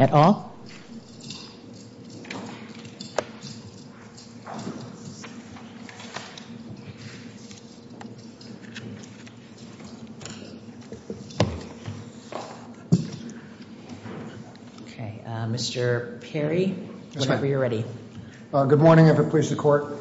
at all? Okay, Mr. Perry, whenever you're ready. Good morning, every police in court.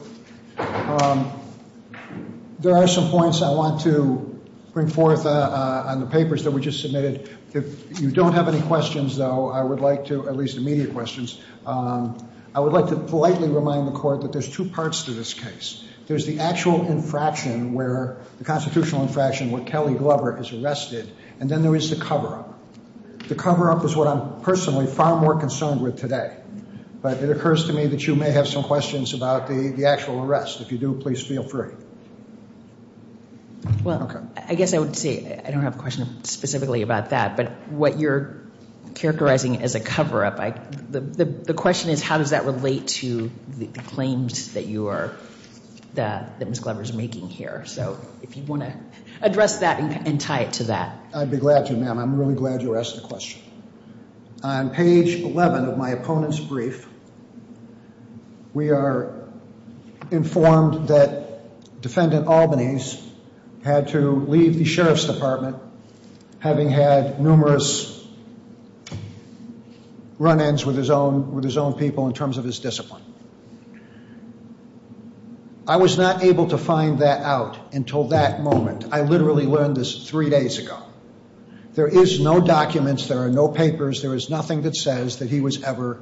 There are some points I want to bring forth on the papers that we just submitted. If you don't have any questions, though, I would like to, at least immediate questions, I would like to politely remind the court that there's two parts to this case. There's the actual infraction where, the constitutional infraction where Kelly Glover is arrested, and then there is the cover-up. The cover-up is what I'm personally far more concerned with today. But it occurs to me that you may have some questions about the actual arrest. If you do, please feel free. Well, I guess I would say, I don't have a question specifically about that, but what you're characterizing as a cover-up, the question is, how does that relate to the claims that you are, that Ms. Glover is making here? So if you want to address that and tie it to that. I'd be glad to, ma'am. I'm really glad you asked the question. On page 11 of my opponent's brief, we are informed that defendant Albanese had to leave the Sheriff's Department, having had numerous run-ins with his own people in terms of his discipline. I was not able to find that out until that moment. I literally learned this three days ago. There is no documents, there are no papers, there is nothing that says that he was ever...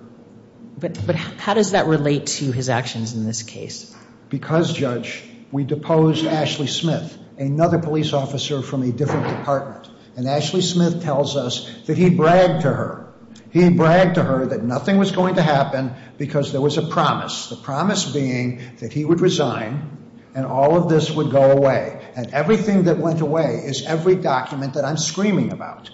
But how does that relate to his actions in this case? Because, Judge, we deposed Ashley Smith, another police officer from a different department. And Ashley Smith tells us that he bragged to her. He bragged to her that nothing was going to happen because there was a promise. The promise being that he would resign and all of this would go away. And everything that went away is every document that I'm screaming about.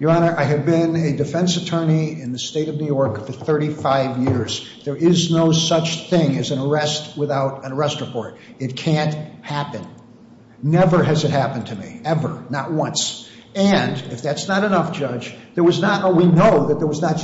Your Honor, I have been a defense attorney in the state of New York for 35 years. There is no such thing as an arrest without an arrest report. It can't happen. Never has it happened to me. Ever. Not once. And, if that's not enough, Judge, there was not... Oh, we know that there was not.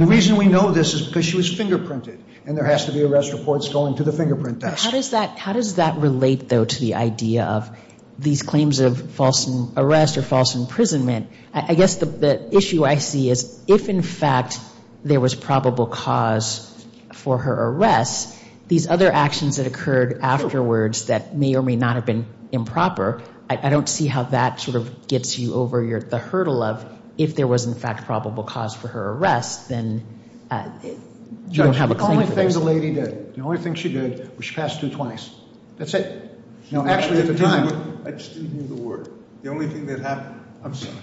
The reason we know this is because she was fingerprinted and there has to be arrest reports going to the fingerprint desk. How does that relate, though, to the idea of these claims of false arrest or false imprisonment? I guess the issue I see is if, in fact, there was probable cause for her arrest, these other actions that occurred afterwards that may or may not have been improper, I don't see how that sort of gets you over the hurdle of if there was, in fact, probable cause for her arrest, then you don't have a claim for that. Judge, the only thing the lady did, the only thing she did was she passed two 20s. That's it. Actually, at the time... I just didn't hear the word. The only thing that happened. I'm sorry.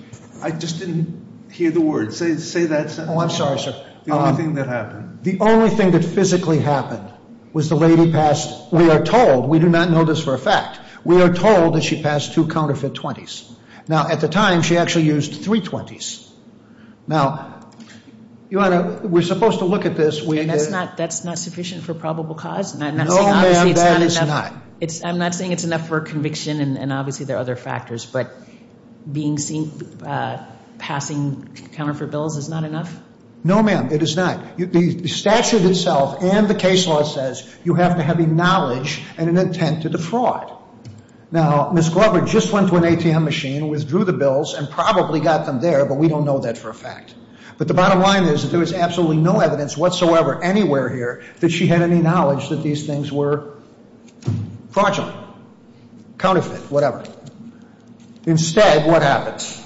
I just didn't hear the word. Say that sentence. Oh, I'm sorry, sir. The only thing that happened. The only thing that physically happened was the lady passed, we are told, we do not know this for a fact, we are told that she passed two counterfeit 20s. Now, at the time, she actually used three 20s. Now, Your Honor, we're supposed to look at this. That's not sufficient for probable cause? No, ma'am, that is not. I'm not saying it's enough for conviction and obviously there are other factors, but being seen passing counterfeit bills is not enough? No, ma'am, it is not. The statute itself and the case law says you have to have a knowledge and an intent to defraud. Now, Ms. Glover just went to an ATM machine, withdrew the bills and probably got them there, but we don't know that for a fact. But the bottom line is that there was absolutely no evidence whatsoever anywhere here that she had any knowledge that these things were fraudulent, counterfeit, whatever. Instead, what happens?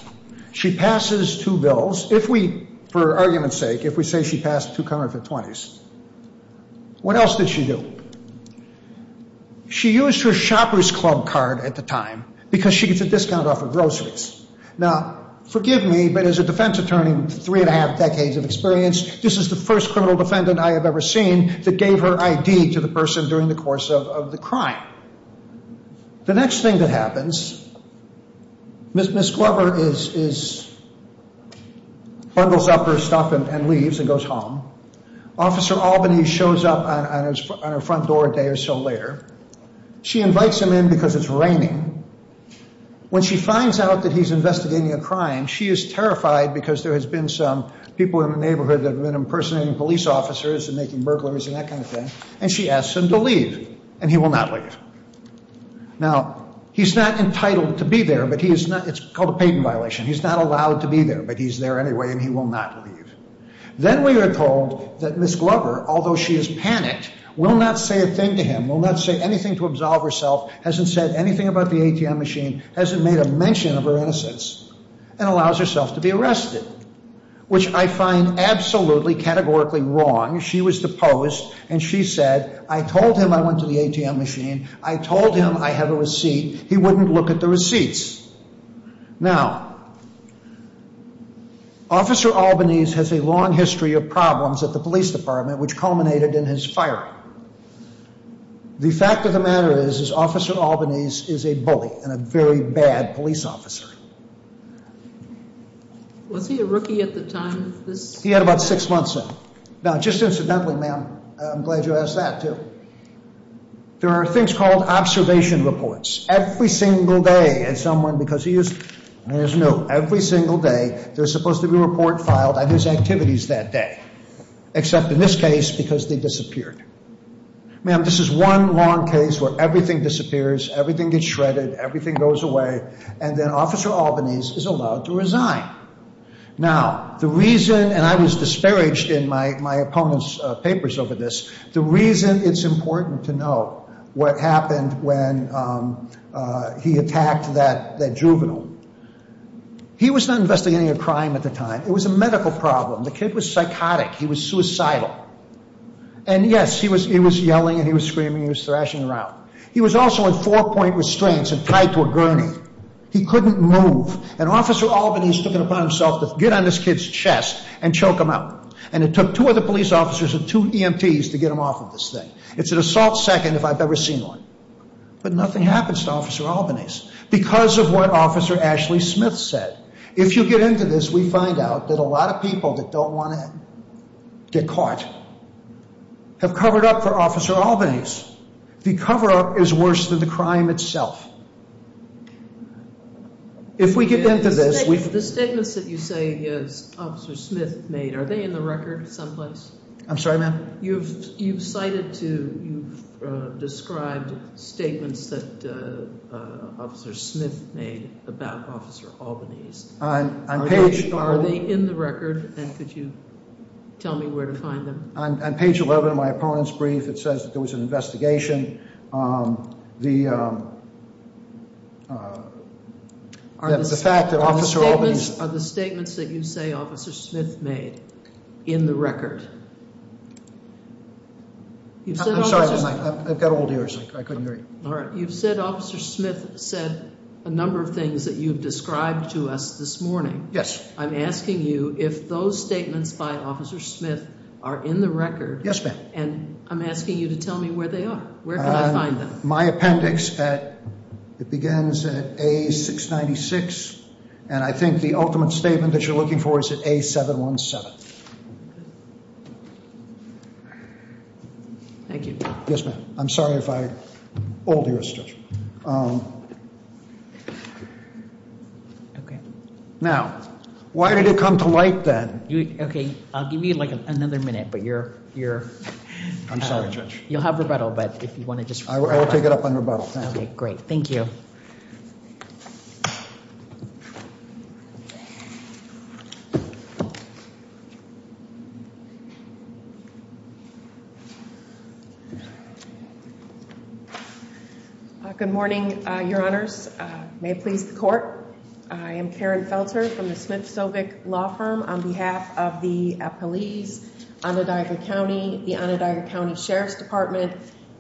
She passes two bills. If we, for argument's sake, if we say she passed two counterfeit 20s, what else did she do? She used her shopper's club card at the time because she gets a discount off of groceries. Now, forgive me, but as a defense attorney with three and a half decades of experience, this is the first criminal defendant I have ever seen that gave her ID to the person during the course of the crime. The next thing that happens, Ms. Glover bundles up her stuff and leaves and goes home. Officer Albany shows up on her front door a day or so later. She invites him in because it's raining. When she finds out that he's investigating a crime, she is terrified because there has been some people in the neighborhood that have been impersonating police officers and making burglaries and that kind of thing, and she asks him to leave, and he will not leave. Now, he's not entitled to be there, but he is not. It's called a patent violation. He's not allowed to be there, but he's there anyway, and he will not leave. Then we are told that Ms. Glover, although she is panicked, will not say a thing to him, will not say anything to absolve herself, hasn't said anything about the ATM machine, hasn't made a mention of her innocence, and allows herself to be arrested, which I find absolutely, categorically wrong. She was deposed, and she said, I told him I went to the ATM machine. I told him I have a receipt. He wouldn't look at the receipts. Now, Officer Albany has a long history of problems at the police department, which culminated in his firing. The fact of the matter is, is Officer Albany is a bully and a very bad police officer. Was he a rookie at the time? He had about six months in. Now, just incidentally, ma'am, I'm glad you asked that, too. There are things called observation reports. Every single day, as someone, because he used, there's a note, every single day there's supposed to be a report filed on his activities that day, except in this case, because they disappeared. Ma'am, this is one long case where everything disappears, everything gets shredded, everything goes away, and then Officer Albany is allowed to resign. Now, the reason, and I was disparaged in my opponent's papers over this, the reason it's important to know what happened when he attacked that juvenile. He was not investigating a crime at the time. It was a medical problem. The kid was psychotic. He was suicidal. And yes, he was yelling and he was screaming, he was thrashing around. He was also in four-point restraints and tied to a gurney. He couldn't move. And Officer Albany is looking upon himself to get on this kid's chest and choke him out. And it took two other police officers and two EMTs to get him off of this thing. It's an assault second if I've ever seen one. But nothing happens to Officer Albany because of what Officer Ashley Smith said. If you get into this, we find out that a lot of people that don't want to get caught have covered up for Officer Albany. The cover-up is worse than the crime itself. If we get into this... The statements that you say Officer Smith made, are they in the record someplace? I'm sorry, ma'am? You've cited to... You've described statements that Officer Smith made about Officer Albany. Are they in the record? And could you tell me where to find them? On page 11 of my opponent's brief, it says that there was an investigation. The fact that Officer Albany... Are the statements that you say Officer Smith made in the record? I'm sorry, ma'am. I've got old ears. I couldn't hear you. You've said Officer Smith said a number of things that you've described to us this morning. Yes. I'm asking you if those statements by Officer Smith are in the record. Yes, ma'am. And I'm asking you to tell me where they are. Where can I find them? My appendix at... It begins at A696, and I think the ultimate statement that you're looking for is at A717. Thank you. Yes, ma'am. I'm sorry if I... Old ears, Judge. Okay. Now, why did it come to light then? Okay. I'll give you like another minute, but you're... I'm sorry, Judge. You'll have rebuttal, but if you want to just... I will take it up on rebuttal. Okay. Great. Thank you. Good morning, Your Honors. May it please the Court. I am Karen Felter from Smith-Sovic Law Firm on behalf of the police, Onondaga County, the Onondaga County Sheriff's Department,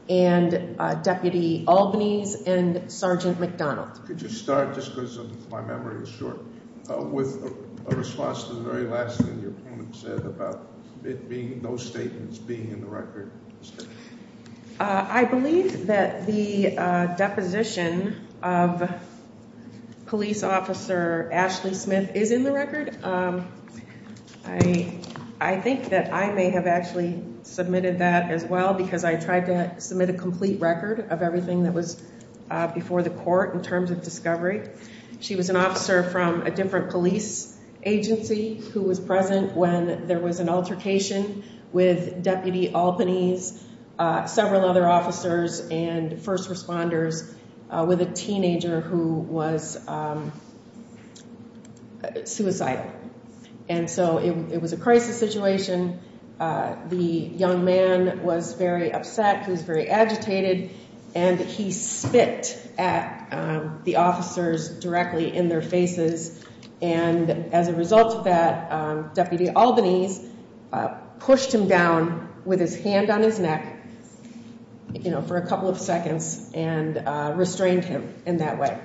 and Deputy Albanese and Sergeant McDonald. Could you start, just because my memory is short, with a response to the very last thing your opponent said about those statements being in the record? I believe that the deposition of police officer Ashley Smith is in the record. I think that I may have actually submitted that as well, because I tried to submit a complete record of everything that was before the court in terms of discovery. She was an officer from a different police agency who was present when there was an altercation with Deputy Albanese, several other officers, and first responders with a teenager who was suicidal. And so it was a crisis situation. The young man was very upset. He was very agitated, and he spit at the officers directly in their faces. And as a result of that, Deputy Albanese pushed him down with his hand on his neck for a couple of seconds and restrained him in that way.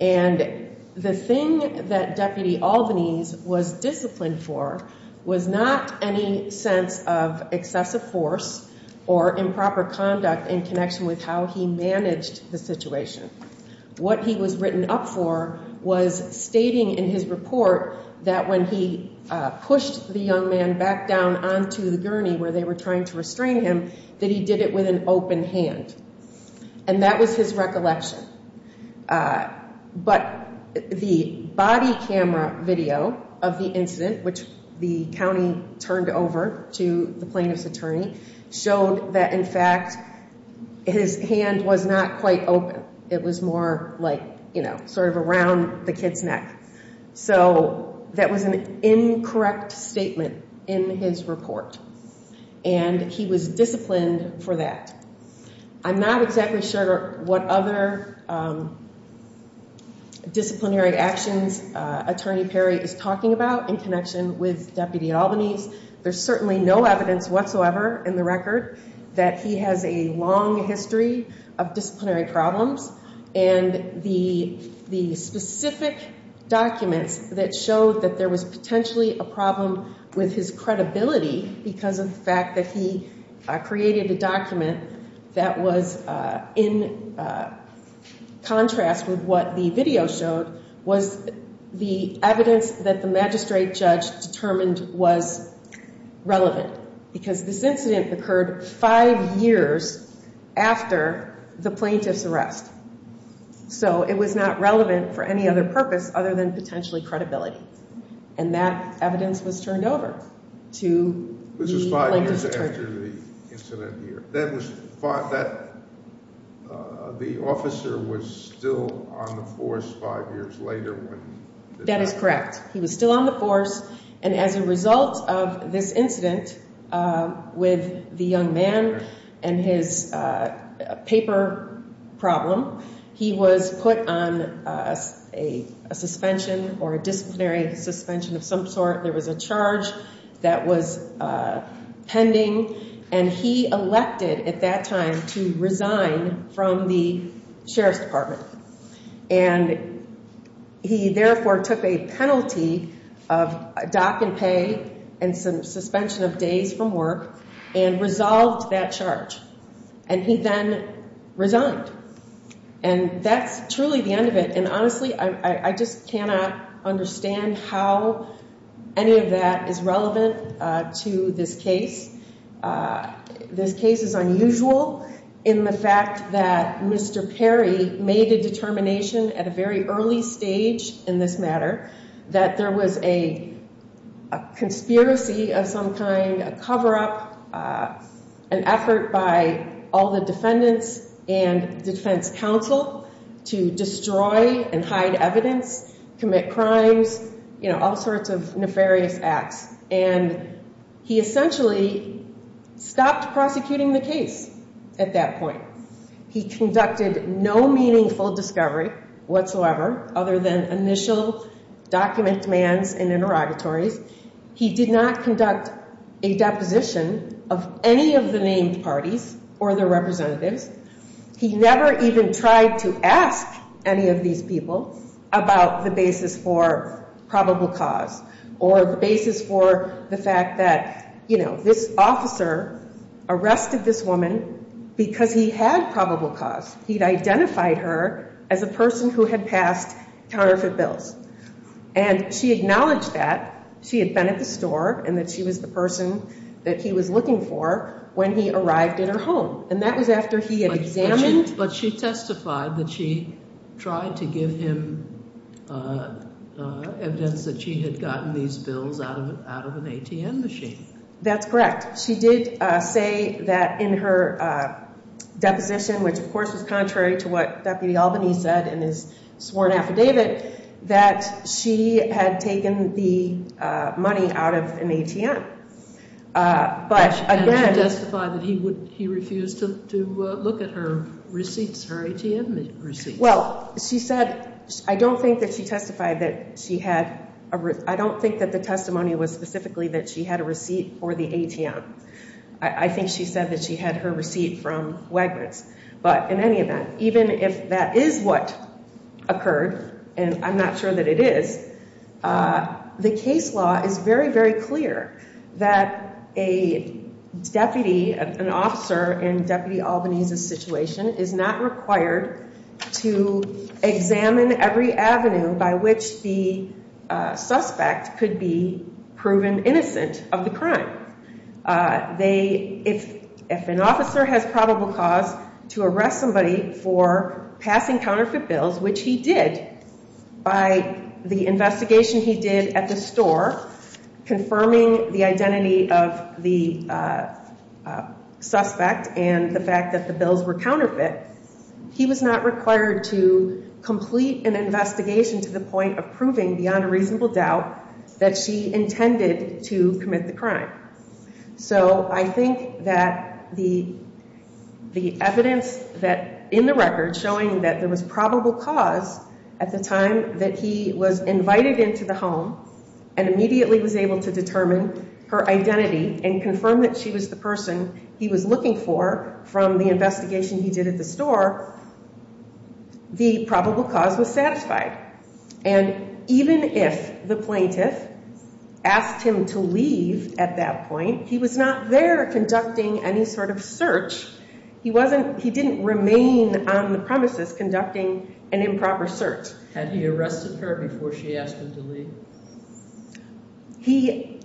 And the thing that Deputy Albanese was disciplined for was not any sense of excessive force or improper conduct in connection with how he managed the situation. What he was written up for was stating in his report that when he pushed the young man back down onto the gurney where they were trying to restrain him, that he did it with an open hand. And that was his recollection. But the body camera video of the incident, which the county turned over to the plaintiff's attorney, showed that, in fact, his hand was not quite open. It was more like, you know, sort of around the kid's neck. So that was an incorrect statement in his report, and he was disciplined for that. I'm not exactly sure what other disciplinary actions Attorney Perry is talking about in connection with Deputy Albanese. There's certainly no evidence whatsoever in the record that he has a long history of disciplinary problems. And the specific documents that showed that there was potentially a problem with his credibility because of the fact that he created a document that was in contrast with what the video showed was the evidence that the magistrate judge determined was relevant. Because this incident occurred five years after the plaintiff's arrest. So it was not relevant for any other purpose other than potentially credibility. And that evidence was turned over to the plaintiff's attorney. After the incident here, the officer was still on the force five years later. That is correct. He was still on the force, and as a result of this incident with the young man and his paper problem, he was put on a suspension or suspension of some sort. There was a charge that was pending, and he elected at that time to resign from the Sheriff's Department. And he therefore took a penalty of dock and pay and some suspension of days from work and resolved that charge. And he then resigned. And that's truly the end of it. And honestly, I just cannot understand how any of that is relevant to this case. This case is unusual in the fact that Mr. Perry made a determination at a very early stage in this matter that there was a conspiracy of some kind, a cover up, an effort by all the defendants and defense counsel to destroy and hide evidence, commit crimes, all sorts of nefarious acts. And he essentially stopped prosecuting the case at that point. He conducted no meaningful discovery whatsoever other than initial document demands and interrogatories. He did not conduct a deposition of any of the named parties or their representatives. He never even tried to ask any of these people about the basis for probable cause or the basis for the fact that, you know, this officer arrested this woman because he had probable cause. He had identified her as a person who had passed counterfeit bills. And she acknowledged that. She had been at the store and that she was the person that he was looking for when he arrived at her home. And that was after he had examined But she testified that she tried to give him evidence that she had gotten these bills out of an ATM machine. That's correct. She did say that in her deposition, which of course was contrary to what Deputy Albany said in his sworn affidavit, that she had taken the money out of an ATM. And she testified that he refused to look at her receipts, her ATM receipts? Well, she said, I don't think that she testified that she had, I don't think that the testimony was specifically that she had a receipt for the ATM. I think she said that she had her receipt from Wegmans. But in any event, even if that is what occurred, and I'm not sure that it is, the case law is very, very clear that a deputy, an officer in Deputy Albany's situation is not required to examine every avenue by which the suspect could be proven innocent of the crime. If an officer has probable cause to arrest somebody for passing counterfeit bills, which he did by the investigation he did at the store, confirming the identity of the suspect and the fact that the bills were counterfeit, he was not required to complete an investigation to the point of proving beyond a reasonable doubt that she intended to commit the crime. So I think that the evidence that, in the record, showing that there was probable cause at the time that he was invited into the home and immediately was able to determine her identity and confirm that she was the person he was looking for from the investigation he did at the store, the probable cause was satisfied. And even if the plaintiff asked him to leave at that point, he was not there conducting any sort of search. He wasn't, he didn't remain on the premises conducting an improper search. Had he arrested her before she asked him to leave? He,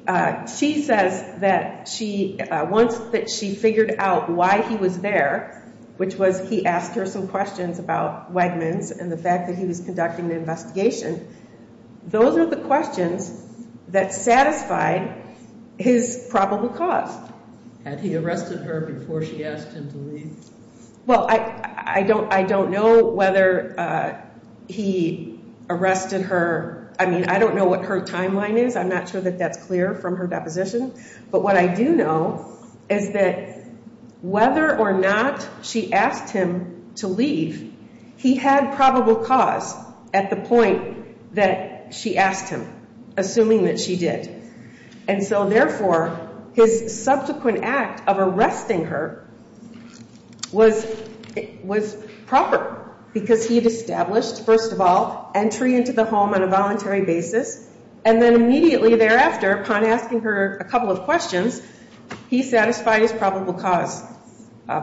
she says that she, once that she figured out why he was there, which was he asked her some questions about Wegmans and the fact that he was conducting the investigation, those are the questions that satisfied his probable cause. Had he arrested her before she asked him to leave? Well, I don't know whether he arrested her. I mean, I don't know what her timeline is. I'm not sure that that's clear from her deposition. But what I do know is that whether or not she asked him to leave, he had probable cause at the point that she asked him, assuming that she did. And so therefore, his subsequent act of arresting her was proper because he had established, first of all, entry into the home on a voluntary basis. And then immediately thereafter, upon asking her a couple of questions, he satisfied his probable cause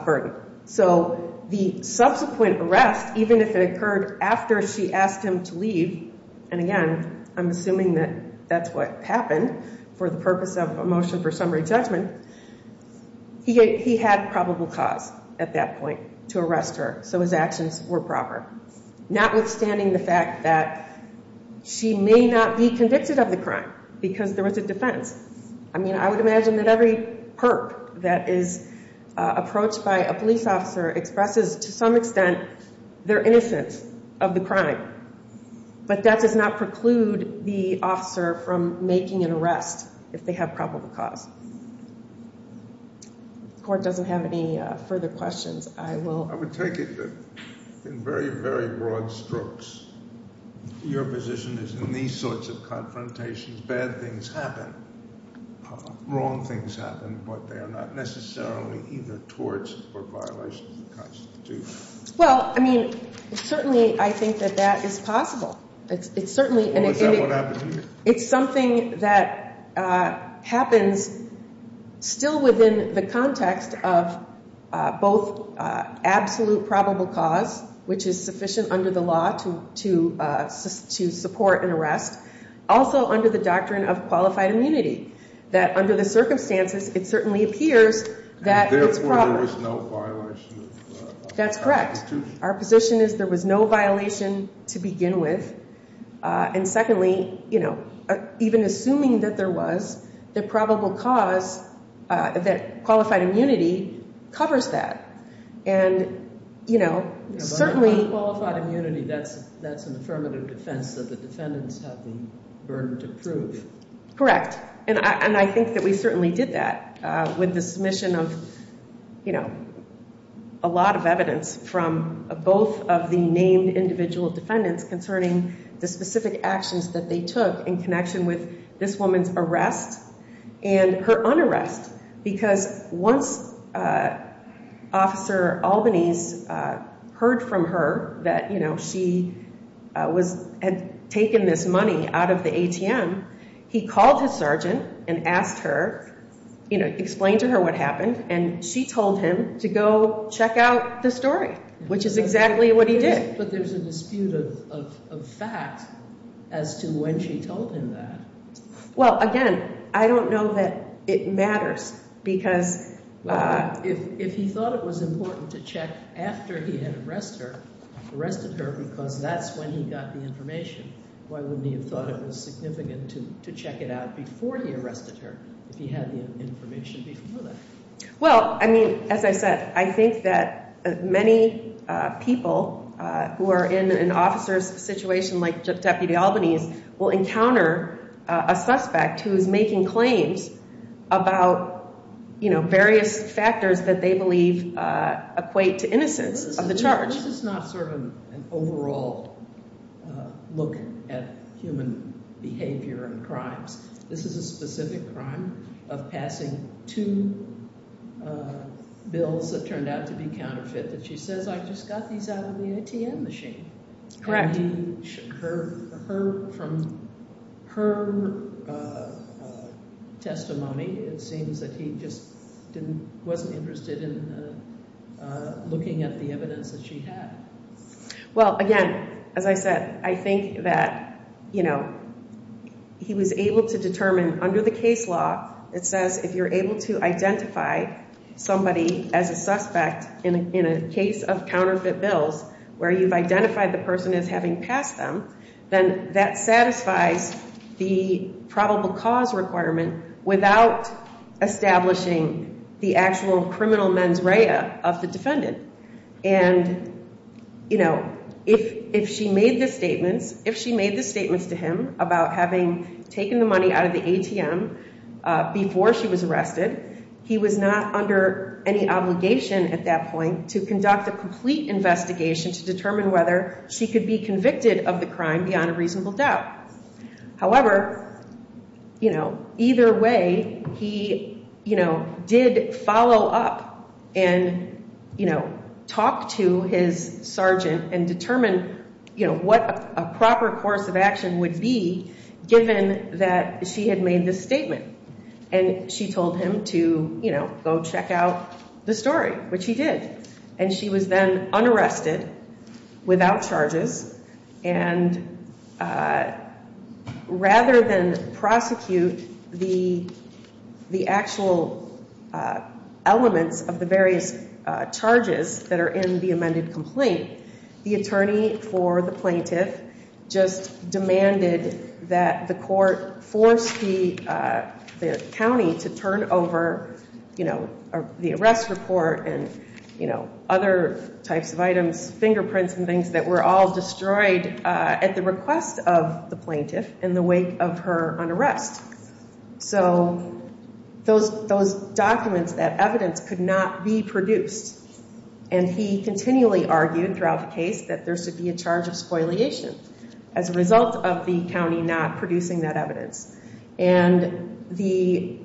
burden. So the subsequent arrest, even if it occurred after she asked him to leave, and again, I'm assuming that that's what happened for the purpose of a motion for summary judgment, he had probable cause at that point to arrest her. So his actions were proper, notwithstanding the fact that she may not be convicted of the crime because there was a defense. I mean, I would imagine that every perp that is approached by a police officer expresses, to some extent, their innocence of the crime. But that does not preclude the officer from making an arrest if they have probable cause. If the court doesn't have any further questions, I will... I would take it that in very, very broad strokes, your position is that in these sorts of confrontations, bad things happen, wrong things happen, but they are not necessarily either torts or violations of the Constitution. Well, I mean, certainly I think that that is possible. It's certainly... Well, is that what happened to you? It's something that happens still within the context of both absolute probable cause, which is sufficient under the law to support an arrest, also under the doctrine of qualified immunity, that under the circumstances, it certainly appears that it's probable. And therefore there was no violation of the Constitution? That's correct. Our position is there was no violation to begin with. And secondly, even assuming that there was, the probable cause that qualified immunity covers that. Unqualified immunity, that's an affirmative defense that the defendants have the burden to prove. Correct. And I think that we certainly did that with the submission of a lot of evidence from both of the named individual defendants concerning the specific actions that they took in connection with this woman's arrest and her un-arrest. Because once Officer Albanese heard from her that she had taken this money out of the ATM, he called his sergeant and asked her, explained to her what happened, and she told him to go check out the story, which is exactly what he did. But there's a dispute of fact as to when she told him that. Well, again, I don't know that it matters because... If he thought it was important to check after he had arrested her because that's when he got the information, why wouldn't he have thought it was significant to check it out before he arrested her if he had the information before that? Well, I mean, as I said, I think that many people who are in an officer's situation like Deputy Albanese will encounter a suspect who is making claims about various factors that they believe equate to innocence of the charge. This is not sort of an overall look at human behavior and crimes. This is a specific crime of passing two bills that turned out to be counterfeit that she says, I just got these out of the ATM machine. Correct. From her testimony, it seems that he just wasn't interested in looking at the evidence that she had. Well, again, as I said, I think that he was able to determine under the case law, it says if you're able to identify somebody as a suspect in a case of counterfeit bills where you've identified the person as having passed them, then that satisfies the probable cause requirement without establishing the actual criminal mens rea of the defendant. If she made the statements to him about having taken the money out of the ATM before she was arrested, he was not under any obligation at that point to conduct a complete investigation to determine whether she could be convicted of the crime beyond a reasonable doubt. However, either way, he did follow up and talk to his sergeant and determine what a proper course of action would be given that she had made this statement. And she told him to go check out the story, which he did. And she was then unarrested without charges. And rather than prosecute the actual elements of the various charges that are in the amended complaint, the attorney for the plaintiff just demanded that the court force the county to turn over the arrest report and other types of items, fingerprints and things that were all destroyed at the request of the plaintiff in the wake of her unarrest. So those documents, that evidence, could not be produced. And he continually argued throughout the case that there should be a charge of spoliation as a result of the county not producing that evidence. And the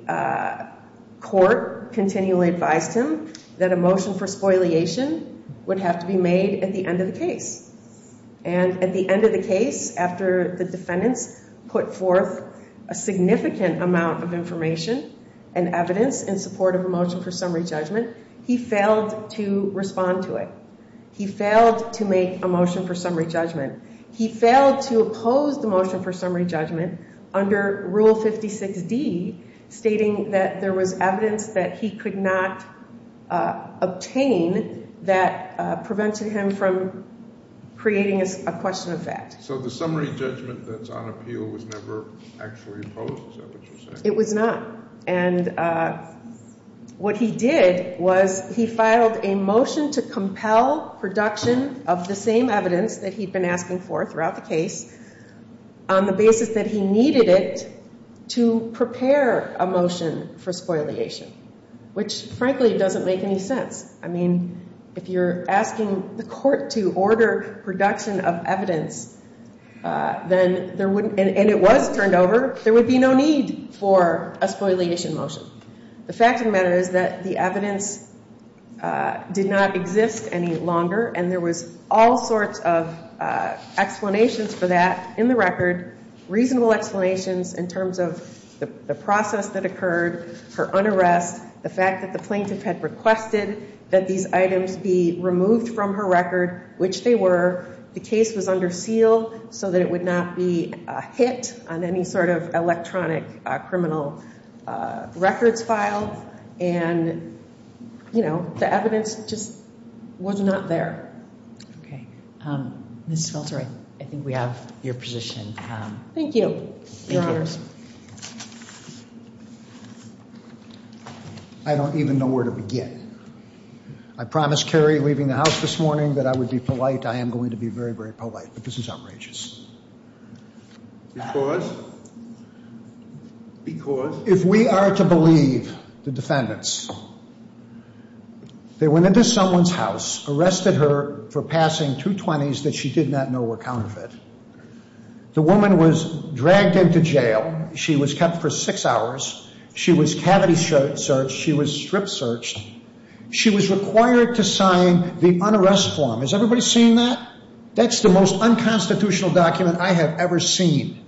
court continually advised him that a motion for spoliation would have to be made at the end of the case. And at the end of the case, after the defendants put forth a significant amount of information and evidence in support of a motion for summary judgment, he failed to respond to it. He failed to make a motion for summary judgment. He failed to oppose the motion for summary judgment under Rule 56D stating that there was evidence that he could not obtain that prevented him from creating a question of fact. So the summary judgment that's on appeal was never actually opposed, is that what you're saying? It was not. And what he did was he filed a motion to compel production of the same evidence that he'd been asking for throughout the case on the basis that he needed it to prepare a motion for spoliation, which frankly doesn't make any sense. I mean, if you're asking the court to order production of evidence and it was turned over, there would be no need for a spoliation motion. The fact of the matter is that the evidence did not exist any longer and there was all sorts of explanations for that in the record, reasonable explanations in terms of the process that occurred, her unarrest, the fact that the plaintiff had requested that these evidence be repealed so that it would not be hit on any sort of electronic criminal records file. And, you know, the evidence just was not there. Okay. Ms. Schultz, I think we have your position. Thank you. Your Honor. I don't even know where to begin. I promised Kerry leaving the house this morning that I would be polite. I am going to be very, very polite, but this is outrageous. Because? Because? If we are to believe the defendants, they went into someone's house, arrested her for passing 220s that she did not know were counterfeit. The woman was dragged into jail. She was kept for six hours. She was cavity searched. She was strip searched. She was required to sign the unarrest form. Has everybody seen that? That's the most unconstitutional document I have ever seen.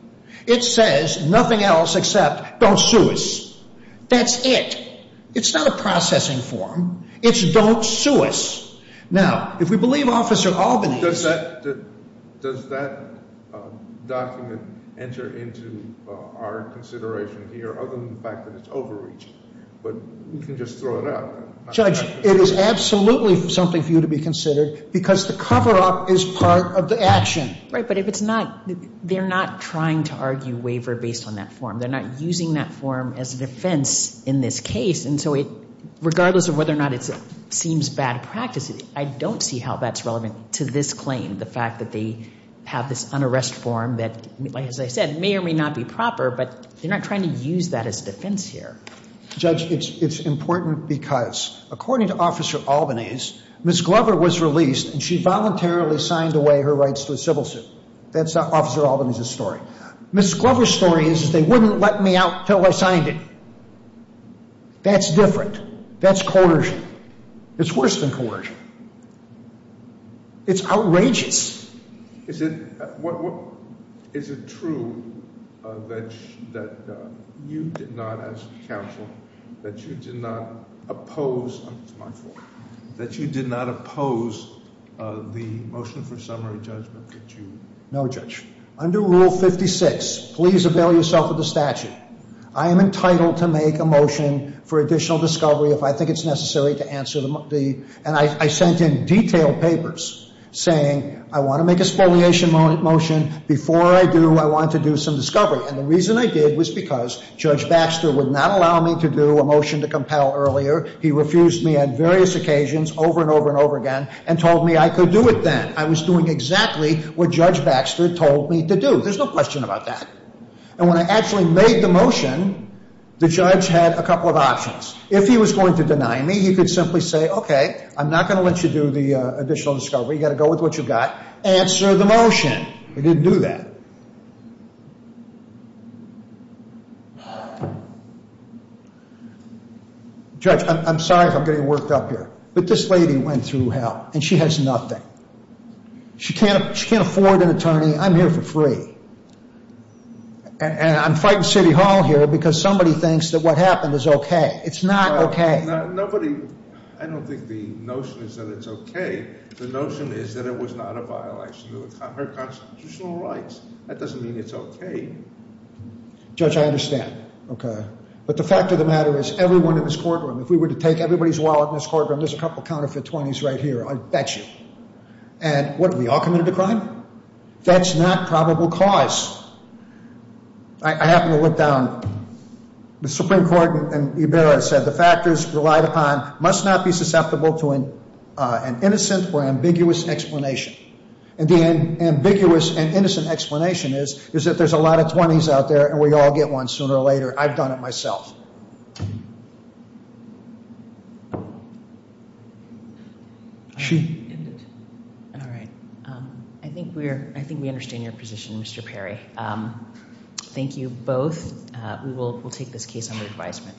It says nothing else except don't sue us. That's it. It's not a processing form. It's don't sue us. Now, if we believe Officer Albanese... Does that document enter into our consideration here other than the fact that it's overreaching? But we can just throw it out. Judge, it is absolutely something for you to be considered because the cover-up is part of the action. Right, but if it's not, they're not trying to argue waiver based on that form. They're not using that form as a defense in this case. And so regardless of whether or not it seems bad practice, I don't see how that's relevant to this claim, the fact that they have this unarrest form that, as I said, may or may not be proper, but they're not trying to use that as a defense here. Judge, it's important because according to Officer Albanese, Ms. Glover was released and she voluntarily signed away her rights to a civil suit. That's Officer Albanese's story. Ms. Glover's story is they wouldn't let me out until I signed it. That's different. That's coercion. It's worse than coercion. It's outrageous. Is it true that you did not, as counsel, that you did not oppose... That you did not oppose the motion for summary judgment that you... No, Judge. Under Rule 56, please avail yourself of the statute. I am entitled to make a motion for additional discovery if I think it's necessary to answer the... And I sent in detailed papers saying I want to make a spoliation motion. Before I do, I want to do some discovery. And the reason I did was because Judge Baxter would not allow me to do a motion to compel earlier. He refused me on various occasions over and over and over again and told me I could do it then. I was doing exactly what Judge Baxter told me to do. There's no question about that. And when I actually made the motion, the judge had a couple of options. If he was going to deny me, he could simply say, okay, I'm not going to let you do the additional discovery. You've got to go with what you've got. Answer the motion. He didn't do that. Judge, I'm sorry if I'm getting worked up here, but this lady went through hell and she has nothing. She can't afford an attorney. I'm here for free. And I'm fighting City Hall here because somebody thinks that what happened is okay. It's not okay. Nobody... I don't think the notion is that it's okay. The notion is that it was not a violation of her constitutional rights. That doesn't mean it's okay. Judge, I understand. Okay. But the fact of the matter is everyone in this courtroom, if we were to take everybody's wallet in this courtroom, there's a couple of counterfeit 20s right here, I bet you. And what, are we all committed to crime? That's not probable cause. I happen to look down. The Supreme Court in Ibarra said the factors relied upon must not be ambiguous and innocent explanation is, is that there's a lot of 20s out there and we all get one sooner or later. I've done it myself. All right. I think we understand your position, Mr. Perry. Thank you both. We will take this case under advisement.